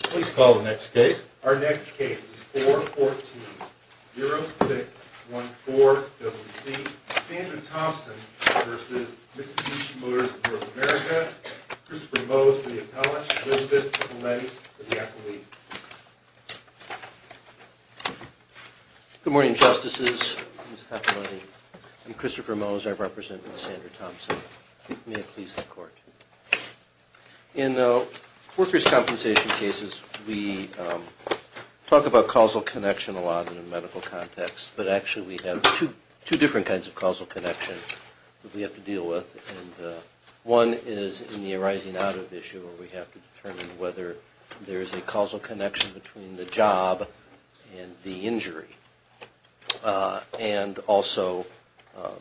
Please call the next case. Our next case is 414-0614-WC. Sandra Thompson v. Mixtecution Motors of North America. Christopher Mose for the appellate, Will Vist for the medic, and the athlete. Good morning, Justices. I'm Christopher Mose. I represent Sandra Thompson. May it please the Court. In workers' compensation cases, we talk about causal connection a lot in a medical context, but actually we have two different kinds of causal connection that we have to deal with. And one is in the arising out of issue where we have to determine whether there is a causal connection between the job and the injury. And also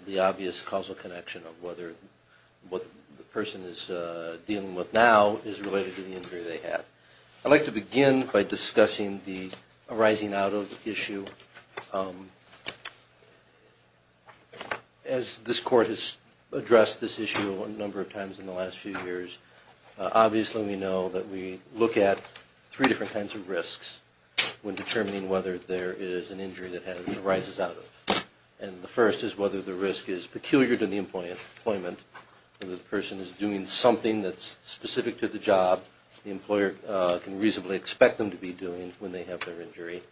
the obvious causal connection of whether what the person is dealing with now is related to the injury they had. I'd like to begin by discussing the arising out of issue. As this Court has addressed this issue a number of times in the last few years, obviously we know that we look at three different kinds of risks when determining whether there is an injury that arises out of it. And the first is whether the risk is peculiar to the employment, whether the person is doing something that's specific to the job the employer can reasonably expect them to be doing when they have their injury.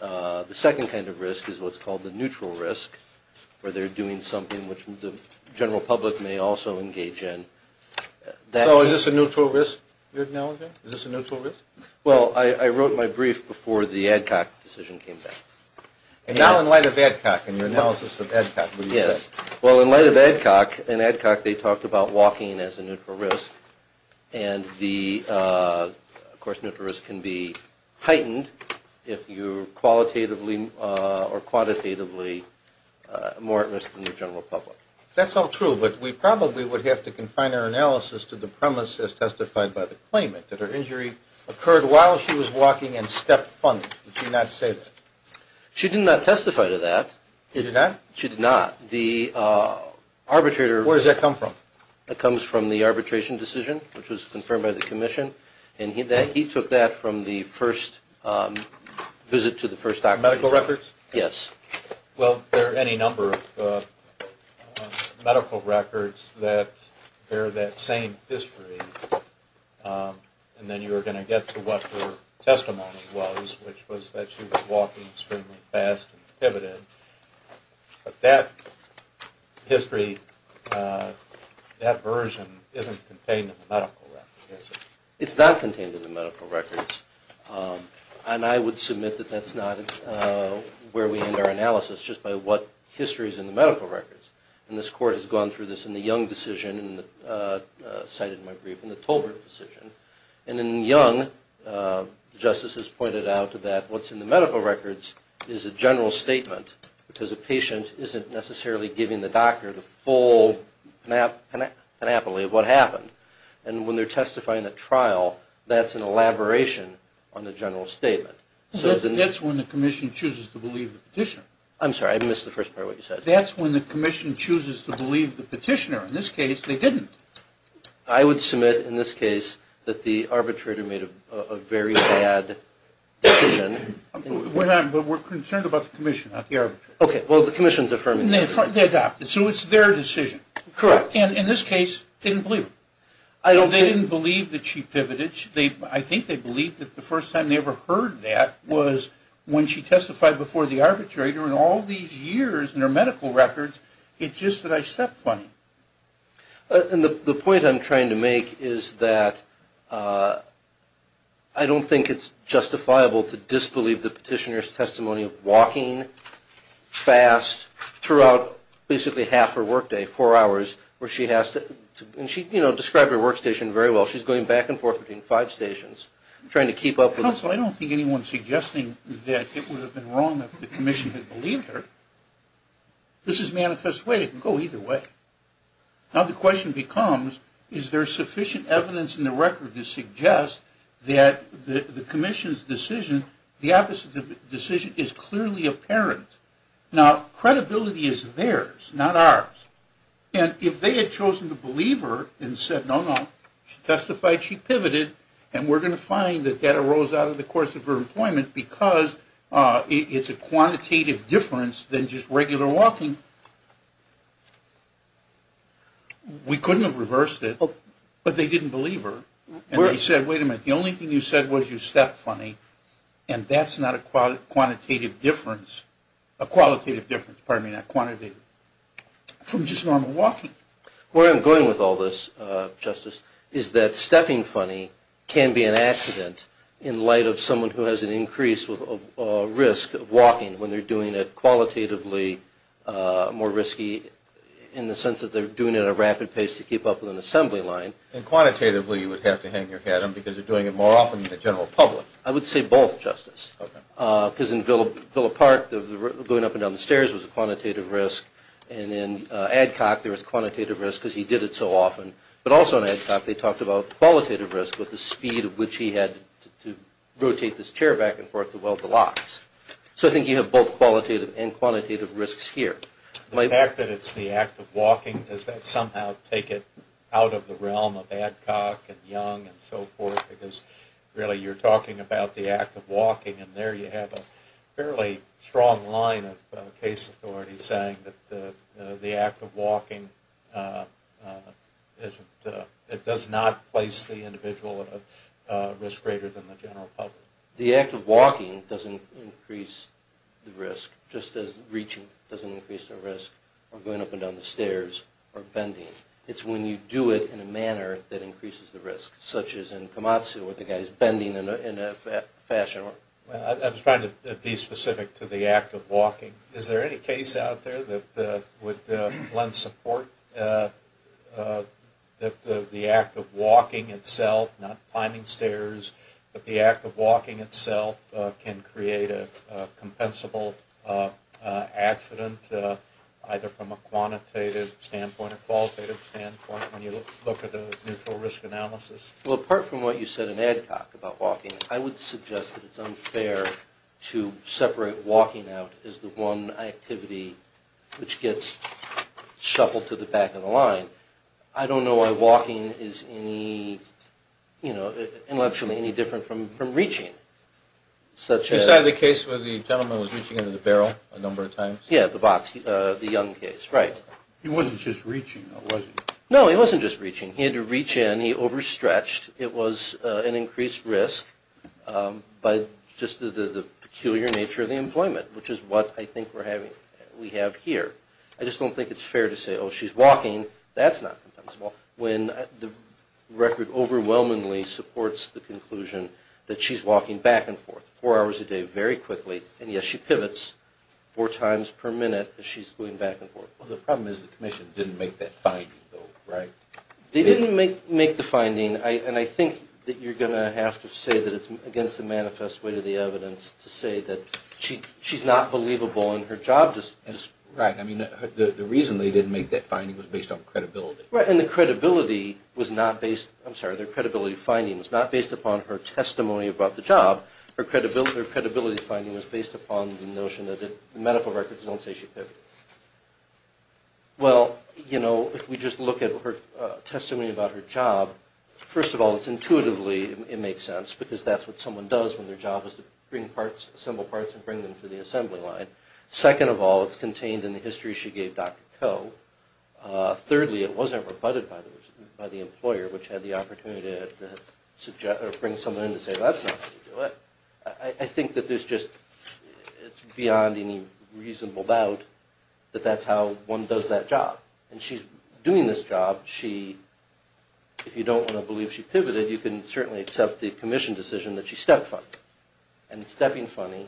The second kind of risk is what's called the neutral risk, where they're doing something which the general public may also engage in. So is this a neutral risk you're acknowledging? Is this a neutral risk? Well, I wrote my brief before the ADCOC decision came back. And now in light of ADCOC and your analysis of ADCOC, what do you say? Yes. Well, in light of ADCOC, in ADCOC they talked about walking as a neutral risk. And the, of course, neutral risk can be heightened if you're qualitatively or quantitatively more at risk than the general public. That's all true, but we probably would have to confine our analysis to the premise as testified by the claimant, that her injury occurred while she was walking and stepped funnily. Would you not say that? She did not testify to that. She did not? She did not. The arbitrator... Where does that come from? That comes from the arbitration decision, which was confirmed by the commission. And he took that from the first visit to the first operation. Medical records? Yes. Well, there are any number of medical records that bear that same history. And then you were going to get to what her testimony was, which was that she was walking extremely fast and pivoted. But that history, that version, isn't contained in the medical records, is it? It's not contained in the medical records. And I would submit that that's not where we end our analysis, just by what history is in the medical records. And this Court has gone through this in the Young decision, cited in my brief, in the Tolbert decision. And in Young, the Justice has pointed out that what's in the medical records is a general statement, because a patient isn't necessarily giving the doctor the full panoply of what happened. And when they're testifying at trial, that's an elaboration on the general statement. That's when the commission chooses to believe the petitioner. I'm sorry, I missed the first part of what you said. That's when the commission chooses to believe the petitioner. In this case, they didn't. I would submit, in this case, that the arbitrator made a very bad decision. We're concerned about the commission, not the arbitrator. Okay, well, the commission's affirming that. They adopted it, so it's their decision. Correct. And in this case, didn't believe it. They didn't believe that she pivoted. I think they believed that the first time they ever heard that was when she testified before the arbitrator, and all these years in her medical records, it's just that I stepped funny. And the point I'm trying to make is that I don't think it's justifiable to disbelieve the petitioner's testimony of walking fast throughout basically half her work day, four hours, where she has to, and she, you know, described her workstation very well. She's going back and forth between five stations, trying to keep up with this. Counsel, I don't think anyone's suggesting that it would have been wrong if the commission had believed her. This is manifest way. It can go either way. Now, the question becomes, is there sufficient evidence in the record to suggest that the commission's decision, the opposite decision, is clearly apparent? Now, credibility is theirs, not ours. And if they had chosen to believe her and said, no, no, she testified, she pivoted, and we're going to find that that arose out of the course of her employment because it's a quantitative difference than just regular walking, we couldn't have reversed it. But they didn't believe her. And they said, wait a minute, the only thing you said was you stepped funny, and that's not a quantitative difference, a qualitative difference, pardon me, not quantitative, from just normal walking. Where I'm going with all this, Justice, is that stepping funny can be an accident in light of someone who has an increased risk of walking when they're doing it qualitatively more risky in the sense that they're doing it at a rapid pace to keep up with an assembly line. And quantitatively, you would have to hang your hat on them because they're doing it more often in the general public. I would say both, Justice. Because in Villa Park, going up and down the stairs was a quantitative risk. And in Adcock, there was quantitative risk because he did it so often. But also in Adcock, they talked about qualitative risk, with the speed at which he had to rotate this chair back and forth to weld the locks. So I think you have both qualitative and quantitative risks here. The fact that it's the act of walking, does that somehow take it out of the realm of Adcock and Young and so forth? Because really you're talking about the act of walking, and there you have a fairly strong line of case authorities saying that the act of walking does not place the individual at a risk greater than the general public. The act of walking doesn't increase the risk, just as reaching doesn't increase the risk, or going up and down the stairs, or bending. It's when you do it in a manner that increases the risk, such as in Komatsu where the guy is bending in a fashion. Is there any case out there that would lend support that the act of walking itself, not climbing stairs, but the act of walking itself can create a compensable accident, either from a quantitative standpoint or a qualitative standpoint, when you look at the neutral risk analysis? Well, apart from what you said in Adcock about walking, I would suggest that it's unfair to separate walking out as the one activity which gets shuffled to the back of the line. I don't know why walking is intellectually any different from reaching. You said the case where the gentleman was reaching into the barrel a number of times? Yeah, the box, the Young case, right. He wasn't just reaching, though, was he? No, he wasn't just reaching. He had to reach in. He overstretched. It was an increased risk by just the peculiar nature of the employment, which is what I think we have here. I just don't think it's fair to say, oh, she's walking. That's not compensable, when the record overwhelmingly supports the conclusion that she's walking back and forth four hours a day very quickly, and yet she pivots four times per minute as she's going back and forth. Well, the problem is the commission didn't make that finding, though, right? They didn't make the finding, and I think that you're going to have to say that it's against the manifest way of the evidence to say that she's not believable and her job just isn't. Right. I mean, the reason they didn't make that finding was based on credibility. Right, and the credibility was not based – I'm sorry, the credibility finding was not based upon her testimony about the job. Her credibility finding was based upon the notion that the medical records don't say she pivoted. Well, you know, if we just look at her testimony about her job, first of all, it's intuitively it makes sense, because that's what someone does when their job is to bring parts, assemble parts and bring them to the assembly line. Second of all, it's contained in the history she gave Dr. Koh. Thirdly, it wasn't rebutted by the employer, which had the opportunity to bring someone in to say that's not how you do it. I think that there's just – it's beyond any reasonable doubt that that's how one does that job. And she's doing this job. She – if you don't want to believe she pivoted, you can certainly accept the commission decision that she stepped funny. And stepping funny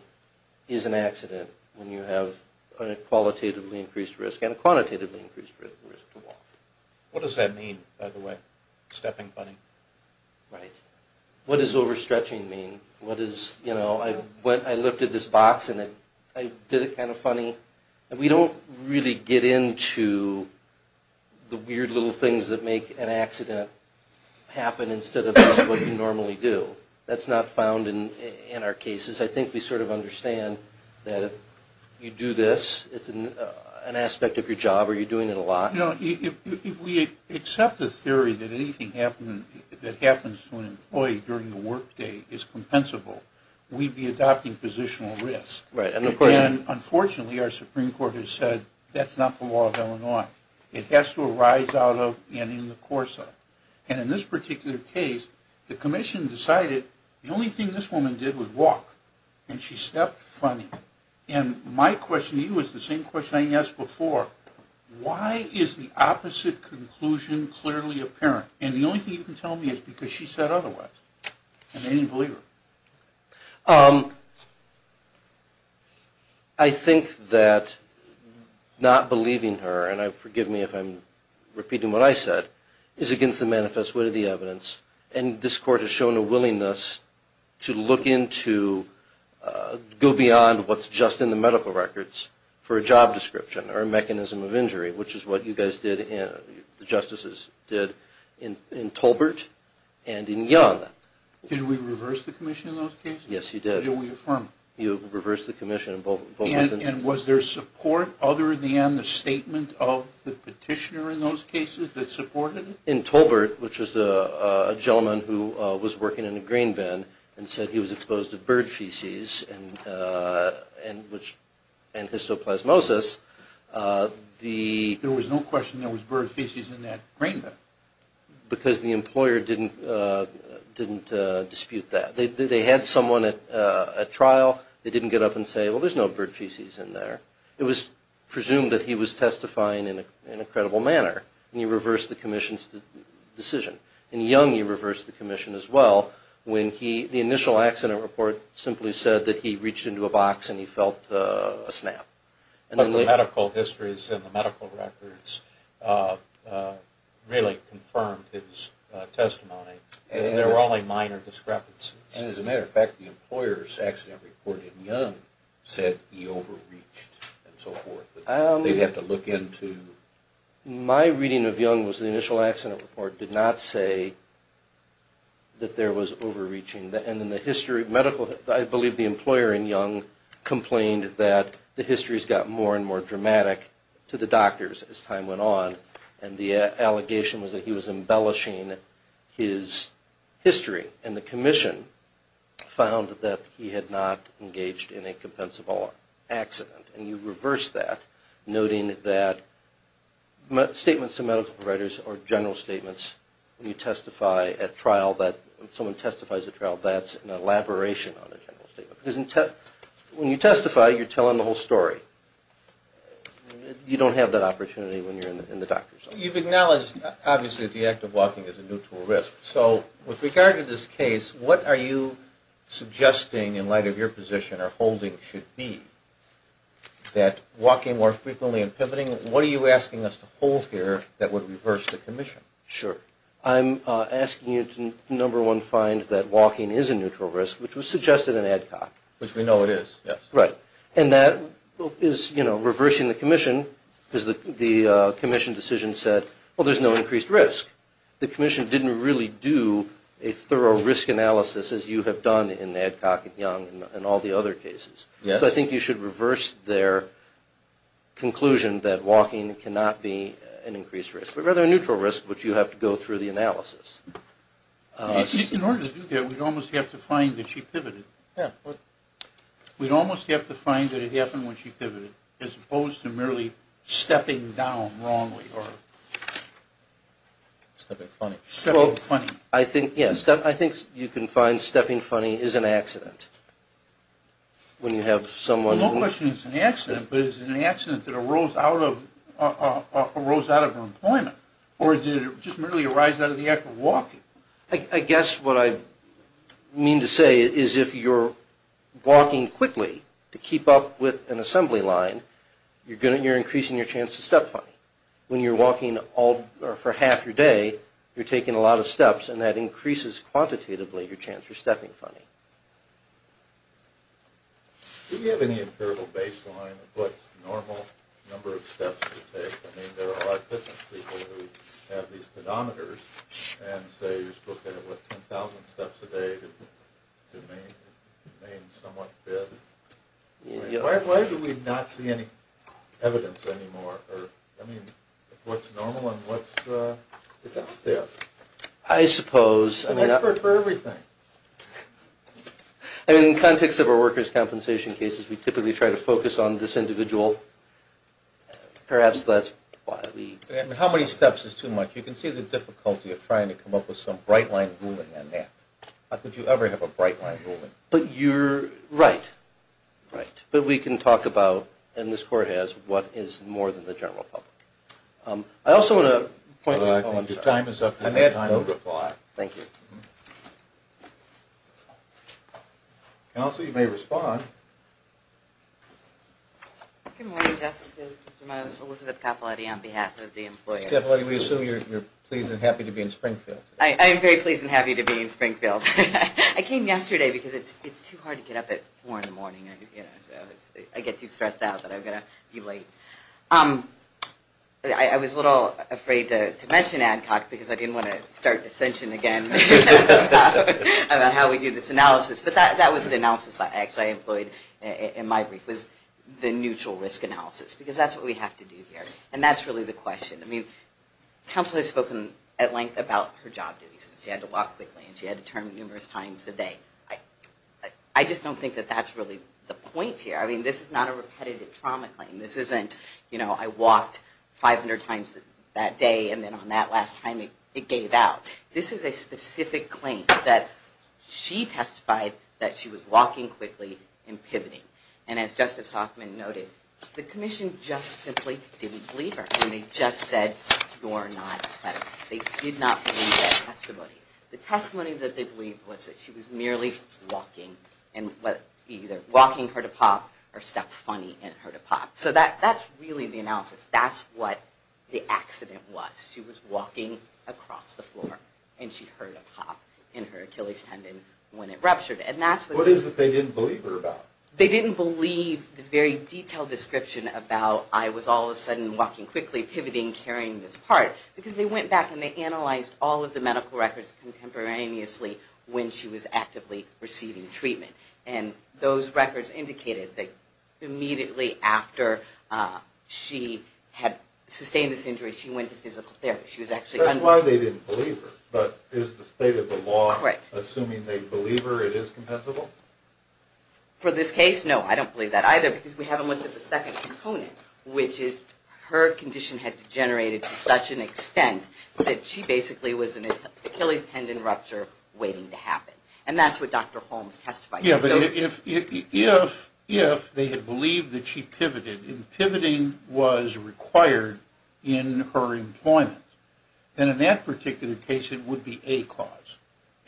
is an accident when you have a qualitatively increased risk and a quantitatively increased risk to walk. What does that mean, by the way, stepping funny? Right. What does overstretching mean? What is – you know, I lifted this box and I did it kind of funny. We don't really get into the weird little things that make an accident happen instead of just what you normally do. That's not found in our cases. I think we sort of understand that if you do this, it's an aspect of your job, or you're doing it a lot. You know, if we accept the theory that anything that happens to an employee during the workday is compensable, we'd be adopting positional risk. Right. Unfortunately, our Supreme Court has said that's not the law of Illinois. It has to arise out of and in the course of. And in this particular case, the commission decided the only thing this woman did was walk, and she stepped funny. And my question to you is the same question I asked before. Why is the opposite conclusion clearly apparent? And the only thing you can tell me is because she said otherwise. And they didn't believe her. I think that not believing her, and forgive me if I'm repeating what I said, is against the manifest way of the evidence. And this Court has shown a willingness to look into – go beyond what's just in the medical records for a job description or a mechanism of injury, which is what you guys did, the justices did in Tolbert and in Young. Did we reverse the commission in those cases? Yes, you did. Did we affirm? You reversed the commission in both instances. And was there support other than the statement of the petitioner in those cases that supported it? In Tolbert, which was a gentleman who was working in a grain bin and said he was exposed to bird feces, and histoplasmosis. There was no question there was bird feces in that grain bin. Because the employer didn't dispute that. They had someone at trial. They didn't get up and say, well, there's no bird feces in there. It was presumed that he was testifying in a credible manner. And you reversed the commission's decision. In Young, you reversed the commission as well. The initial accident report simply said that he reached into a box and he felt a snap. But the medical histories and the medical records really confirmed his testimony. There were only minor discrepancies. And as a matter of fact, the employer's accident report in Young said he overreached and so forth. They'd have to look into? My reading of Young was the initial accident report did not say that there was overreaching. And in the history of medical, I believe the employer in Young complained that the histories got more and more dramatic to the doctors as time went on. And the allegation was that he was embellishing his history. And the commission found that he had not engaged in a compensable accident. And you reversed that, noting that statements to medical providers or general statements when you testify at trial that someone testifies at trial, that's an elaboration on a general statement. Because when you testify, you're telling the whole story. You don't have that opportunity when you're in the doctor's office. You've acknowledged, obviously, that the act of walking is a neutral risk. So with regard to this case, what are you suggesting in light of your position or holding should be that walking more frequently and pivoting, what are you asking us to hold here that would reverse the commission? Sure. I'm asking you to, number one, find that walking is a neutral risk, which was suggested in ADCOC. Which we know it is, yes. Right. And that is, you know, reversing the commission because the commission decision said, well, there's no increased risk. The commission didn't really do a thorough risk analysis as you have done in ADCOC and Young and all the other cases. Yes. So I think you should reverse their conclusion that walking cannot be an increased risk, but rather a neutral risk, which you have to go through the analysis. In order to do that, we'd almost have to find that she pivoted. Yeah. We'd almost have to find that it happened when she pivoted, as opposed to merely stepping down wrongly or stepping funny. Stepping funny. I think, yes, I think you can find stepping funny is an accident. No question it's an accident, but is it an accident that arose out of her employment or did it just merely arise out of the act of walking? I guess what I mean to say is if you're walking quickly to keep up with an assembly line, you're increasing your chance to step funny. When you're walking for half your day, you're taking a lot of steps, and that increases quantitatively your chance for stepping funny. Do you have any empirical baseline of what normal number of steps to take? I mean, there are a lot of fitness people who have these pedometers and say you're supposed to have, what, 10,000 steps a day to remain somewhat fit. Why do we not see any evidence anymore of what's normal and what's out there? I suppose. An expert for everything. In the context of our workers' compensation cases, we typically try to focus on this individual. Perhaps that's why we... How many steps is too much? You can see the difficulty of trying to come up with some bright-line ruling on that. How could you ever have a bright-line ruling? But you're right. Right. But we can talk about, and this Court has, what is more than the general public. I also want to point out... Your time is up. Thank you. Counsel, you may respond. Good morning, Justices. Elizabeth Capaletti on behalf of the employers. We assume you're pleased and happy to be in Springfield. I am very pleased and happy to be in Springfield. I came yesterday because it's too hard to get up at 4 in the morning. I get too stressed out that I'm going to be late. I was a little afraid to mention Adcock because I didn't want to start dissension again about how we do this analysis. But that was the analysis I actually employed in my brief, was the neutral risk analysis, because that's what we have to do here. And that's really the question. Counsel has spoken at length about her job duties. She had to walk quickly and she had to turn numerous times a day. I just don't think that that's really the point here. I mean, this is not a repetitive trauma claim. This isn't, you know, I walked 500 times that day and then on that last time it gave out. This is a specific claim that she testified that she was walking quickly and pivoting. And as Justice Hoffman noted, the Commission just simply didn't believe her. I mean, they just said you're not credible. They did not believe that testimony. The testimony that they believed was that she was merely walking and either walking heard a pop or stepped funny and heard a pop. So that's really the analysis. That's what the accident was. She was walking across the floor and she heard a pop in her Achilles tendon when it ruptured. What is it they didn't believe her about? They didn't believe the very detailed description about I was all of a sudden walking quickly, pivoting, carrying this part. Because they went back and they analyzed all of the medical records contemporaneously when she was actively receiving treatment. And those records indicated that immediately after she had sustained this injury, she went to physical therapy. That's why they didn't believe her. But is the state of the law assuming they believe her it is compensable? For this case, no. I don't believe that either because we haven't looked at the second component, which is her condition had degenerated to such an extent that she basically was an Achilles tendon rupture waiting to happen. And that's what Dr. Holmes testified to. Yeah, but if they had believed that she pivoted and pivoting was required in her employment, then in that particular case it would be a cause.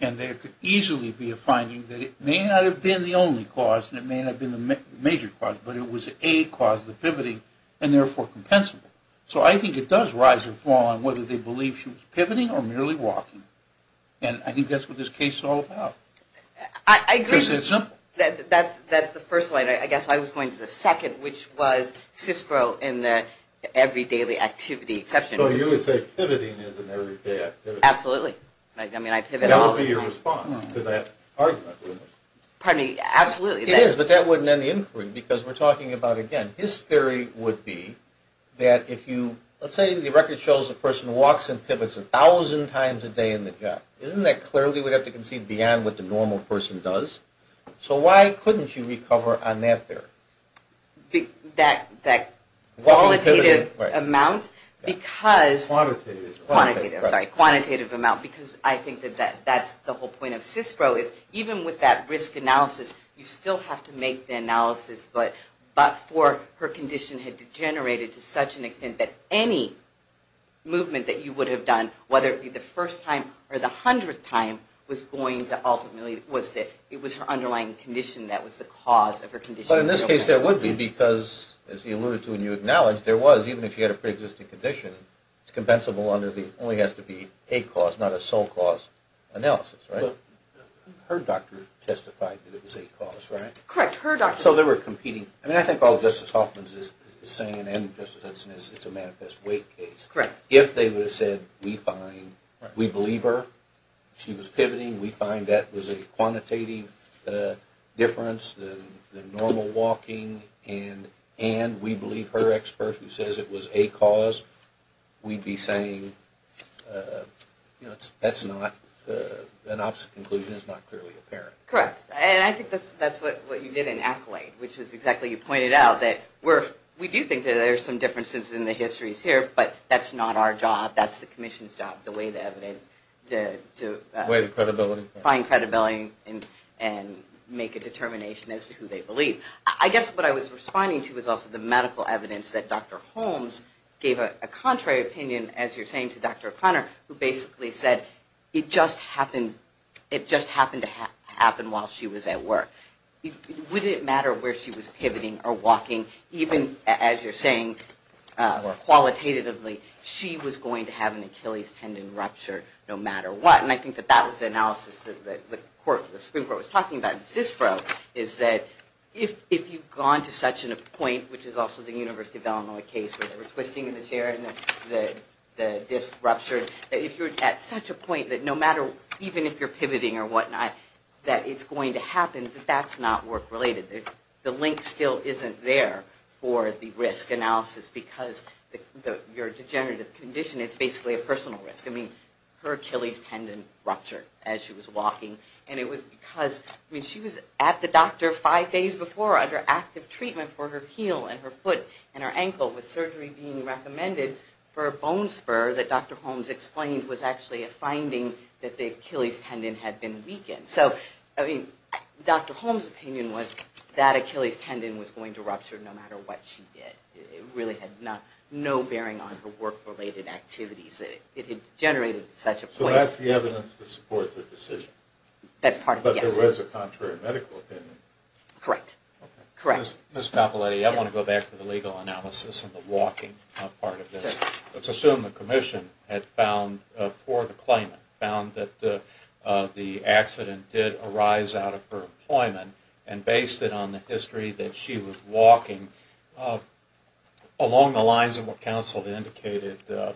And there could easily be a finding that it may not have been the only cause and it may not have been the major cause, but it was a cause of the pivoting and therefore compensable. So I think it does rise or fall on whether they believe she was pivoting or merely walking. And I think that's what this case is all about. I agree. Because it's simple. That's the first one. I guess I was going to the second, which was CISPRO and the everyday activity exception. So you would say pivoting is an everyday activity. Absolutely. I mean, I pivot all the time. That would be your response to that argument, wouldn't it? Pardon me? Absolutely. It is, but that wouldn't end the inquiry because we're talking about, again, his theory would be that if you – let's say the record shows a person walks and pivots 1,000 times a day in the job. Isn't that clearly we'd have to concede beyond what the normal person does? So why couldn't you recover on that theory? That qualitative amount because – Quantitative. Quantitative. Sorry, quantitative amount because I think that that's the whole point of CISPRO is even with that risk analysis, you still have to make the analysis, but for her condition had degenerated to such an extent that any movement that you would have done, whether it be the first time or the hundredth time, was going to ultimately – it was her underlying condition that was the cause of her condition. But in this case, there would be because, as you alluded to and you acknowledged, there was, even if you had a preexisting condition, it's compensable under the – it only has to be a cause, not a sole cause analysis, right? Her doctor testified that it was a cause, right? Correct. Her doctor. So they were competing. I mean, I think all Justice Hoffman is saying, and Justice Hudson, is it's a manifest weight case. Correct. If they would have said we find – we believe her, she was pivoting, we find that was a quantitative difference than normal walking, and we believe her expert who says it was a cause, we'd be saying that's not – an opposite conclusion is not clearly apparent. Correct. And I think that's what you did in Accolade, which is exactly – you pointed out that we do think that there are some differences in the histories here, but that's not our job. That's the Commission's job, to weigh the evidence, to – Weigh the credibility. Find credibility and make a determination as to who they believe. I guess what I was responding to was also the medical evidence that Dr. Holmes gave a contrary opinion, as you're saying, to Dr. O'Connor, who basically said it just happened to happen while she was at work. Would it matter where she was pivoting or walking, even, as you're saying, qualitatively, she was going to have an Achilles tendon rupture no matter what? And I think that that was the analysis that the Supreme Court was talking about. CISPRO is that if you've gone to such a point, which is also the University of Illinois case, where they were twisting in the chair and the disc ruptured, that if you're at such a point that no matter – even if you're pivoting or whatnot, that it's going to happen, that that's not work-related. The link still isn't there for the risk analysis because your degenerative condition, it's basically a personal risk. I mean, her Achilles tendon ruptured as she was walking, and it was because – I mean, she was at the doctor five days before under active treatment for her heel and her foot and her ankle with surgery being recommended for a bone spur that Dr. Holmes explained was actually a finding that the Achilles tendon had been weakened. So, I mean, Dr. Holmes' opinion was that Achilles tendon was going to rupture no matter what she did. It really had no bearing on her work-related activities. It had generated such a point. So that's the evidence to support the decision. That's part of it, yes. But there was a contrary medical opinion. Correct. Correct. Ms. Cappelletti, I want to go back to the legal analysis and the walking part of this. Let's assume the commission had found, for the claimant, found that the accident did arise out of her employment and based it on the history that she was walking along the lines of what counsel had indicated, a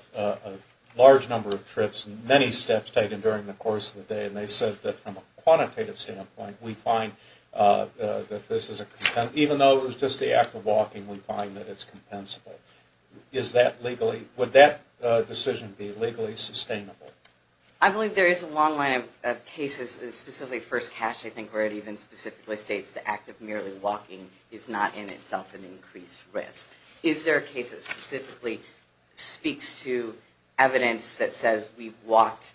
large number of trips and many steps taken during the course of the day, and they said that from a quantitative standpoint, we find that this is a – even though it was just the act of walking, we find that it's compensable. Is that legally – would that decision be legally sustainable? I believe there is a long line of cases, and specifically First Cash, I think, where it even specifically states the act of merely walking is not in itself an increased risk. Is there a case that specifically speaks to evidence that says we've walked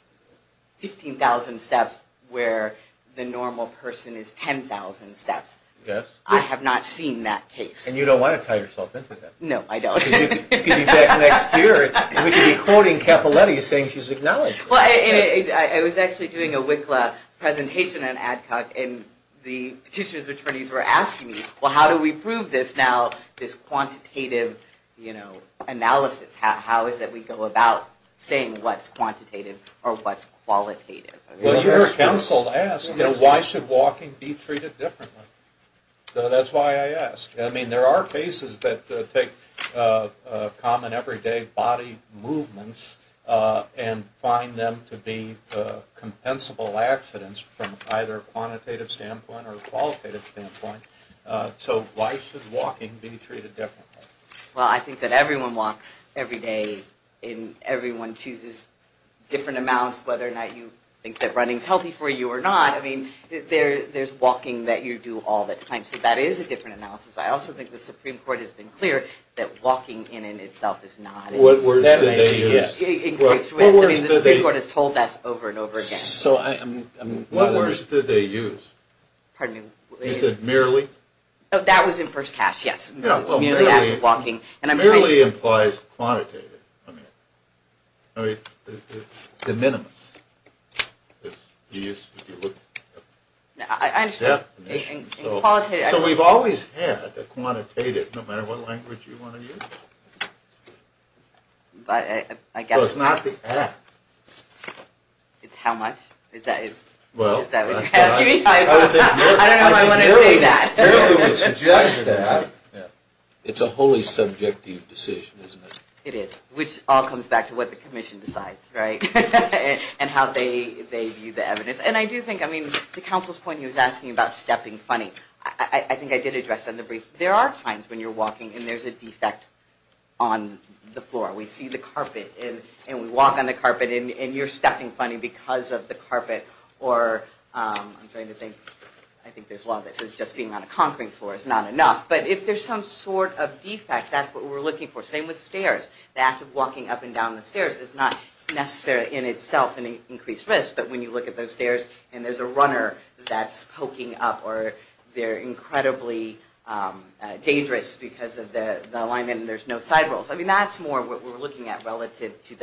15,000 steps where the normal person is 10,000 steps? Yes. I have not seen that case. And you don't want to tie yourself into that. No, I don't. Because you could be back next year, and we could be quoting Cappelletti saying she's acknowledged it. I was actually doing a WICLA presentation on ADCOC, and the petitioner's attorneys were asking me, well, how do we prove this now, this quantitative analysis? How is it we go about saying what's quantitative or what's qualitative? Well, you were counseled to ask, why should walking be treated differently? That's why I asked. I mean, there are cases that take common, everyday body movements and find them to be compensable accidents from either a quantitative standpoint or a qualitative standpoint. So why should walking be treated differently? Well, I think that everyone walks every day, and everyone chooses different amounts, whether or not you think that running is healthy for you or not. I mean, there's walking that you do all the time. So that is a different analysis. I also think the Supreme Court has been clear that walking in and of itself is not an increased risk. What words did they use? I mean, the Supreme Court has told us over and over again. What words did they use? Pardon me? You said merely? That was in first cast, yes. Yeah, well, merely implies quantitative. I mean, it's the minimus. If you look at the definition. I understand. So we've always had a quantitative, no matter what language you want to use. But I guess not. It's how much? Is that what you're asking me? I don't know if I want to say that. Merely would suggest that. It's a wholly subjective decision, isn't it? It is, which all comes back to what the Commission decides, right, and how they view the evidence. And I do think, I mean, to Counsel's point, he was asking about stepping funny. I think I did address that in the brief. There are times when you're walking and there's a defect on the floor. We see the carpet and we walk on the carpet and you're stepping funny because of the carpet. Or I'm trying to think. I think there's a lot of this. Just being on a concrete floor is not enough. But if there's some sort of defect, that's what we're looking for. Same with stairs. The act of walking up and down the stairs is not necessarily in itself an increased risk. But when you look at those stairs and there's a runner that's poking up or they're incredibly dangerous because of the alignment and there's no side rolls. I mean, that's more what we're looking at relative to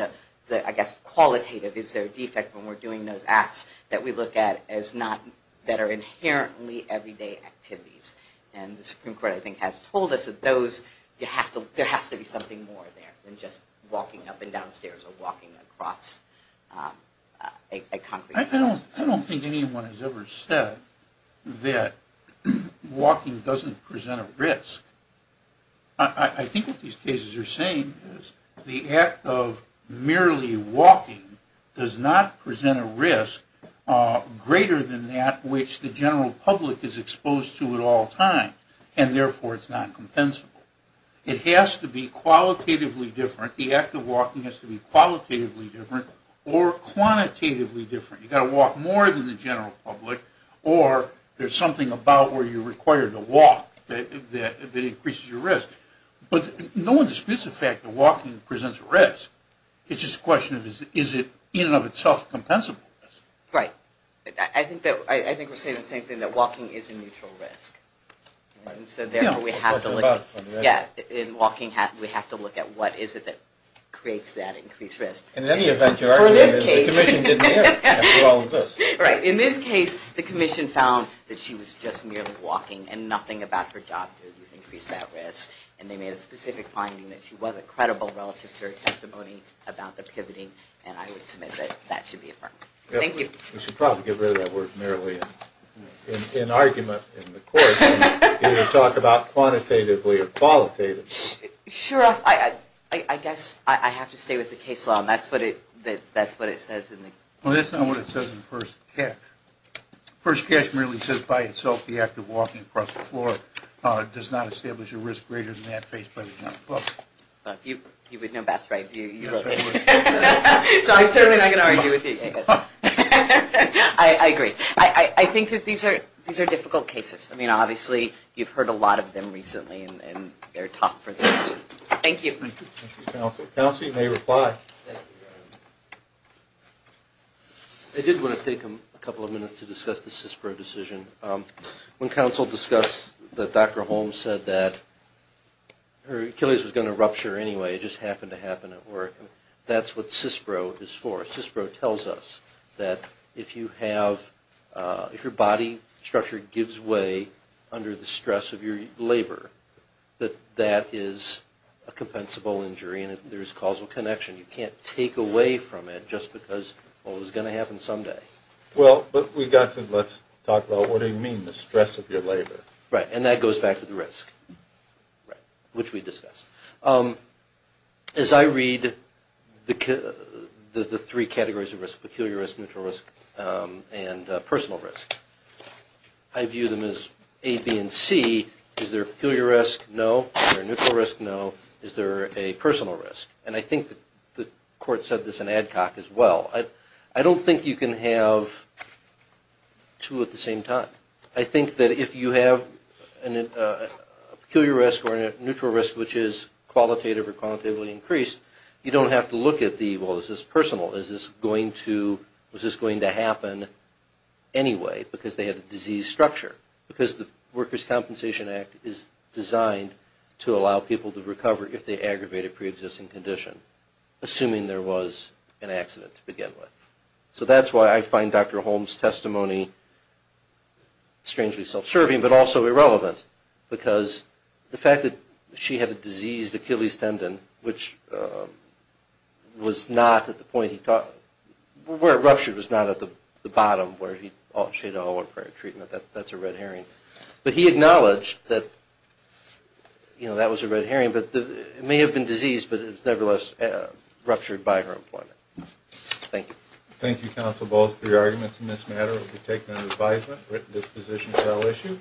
the, I guess, qualitative. Is there a defect when we're doing those acts that we look at that are inherently everyday activities? And the Supreme Court, I think, has told us that there has to be something more there than just walking up and down stairs or walking across a concrete floor. I don't think anyone has ever said that walking doesn't present a risk. I think what these cases are saying is the act of merely walking does not present a risk greater than that which the general public is exposed to at all times and, therefore, it's not compensable. It has to be qualitatively different. The act of walking has to be qualitatively different or quantitatively different. You've got to walk more than the general public or there's something about where you're required to walk that increases your risk. But no one disputes the fact that walking presents a risk. It's just a question of is it in and of itself a compensable risk. Right. I think we're saying the same thing, that walking is a neutral risk. And so, therefore, we have to look at what is it that creates that increased risk. In any event, you're arguing that the Commission didn't answer all of this. Right. In this case, the Commission found that she was just merely walking and nothing about her job increased that risk. And they made a specific finding that she wasn't credible relative to her testimony about the pivoting. And I would submit that that should be affirmed. Thank you. We should probably get rid of that word merely in argument in the court and talk about quantitatively or qualitatively. Sure. I guess I have to stay with the case law. That's what it says. Well, that's not what it says in the first catch. The first catch merely says by itself the act of walking across the floor does not establish a risk greater than that faced by the general public. You would know best, right? So I'm certainly not going to argue with you. I agree. I think that these are difficult cases. I mean, obviously, you've heard a lot of them recently in their talk. Thank you. Thank you, Counsel. Counsel, you may reply. Thank you. I did want to take a couple of minutes to discuss the CISPRO decision. When counsel discussed that Dr. Holmes said that her Achilles was going to rupture anyway. It just happened to happen at work. That's what CISPRO is for. CISPRO tells us that if your body structure gives way under the stress of your labor, that that is a compensable injury and there is causal connection. You can't take away from it just because, well, it's going to happen someday. Well, but we got to let's talk about what do you mean the stress of your labor? Right, and that goes back to the risk, which we discussed. As I read the three categories of risk, peculiar risk, neutral risk, and personal risk, I view them as A, B, and C. Is there a peculiar risk? No. Is there a neutral risk? No. Is there a personal risk? No. And I think the court said this in ADCOC as well. I don't think you can have two at the same time. I think that if you have a peculiar risk or a neutral risk, which is qualitative or qualitatively increased, you don't have to look at the, well, is this personal? Is this going to happen anyway because they had a disease structure? Because the Workers' Compensation Act is designed to allow people to recover if they have a condition, assuming there was an accident to begin with. So that's why I find Dr. Holmes' testimony strangely self-serving but also irrelevant because the fact that she had a diseased Achilles tendon, which was not at the point he thought, where it ruptured was not at the bottom where he thought she had a whole other treatment. That's a red herring. But he acknowledged that, you know, that was a red herring. It may have been diseased, but it nevertheless ruptured by her employment. Thank you. Thank you, counsel. Both of your arguments in this matter will be taken under advisement. This position is now issued.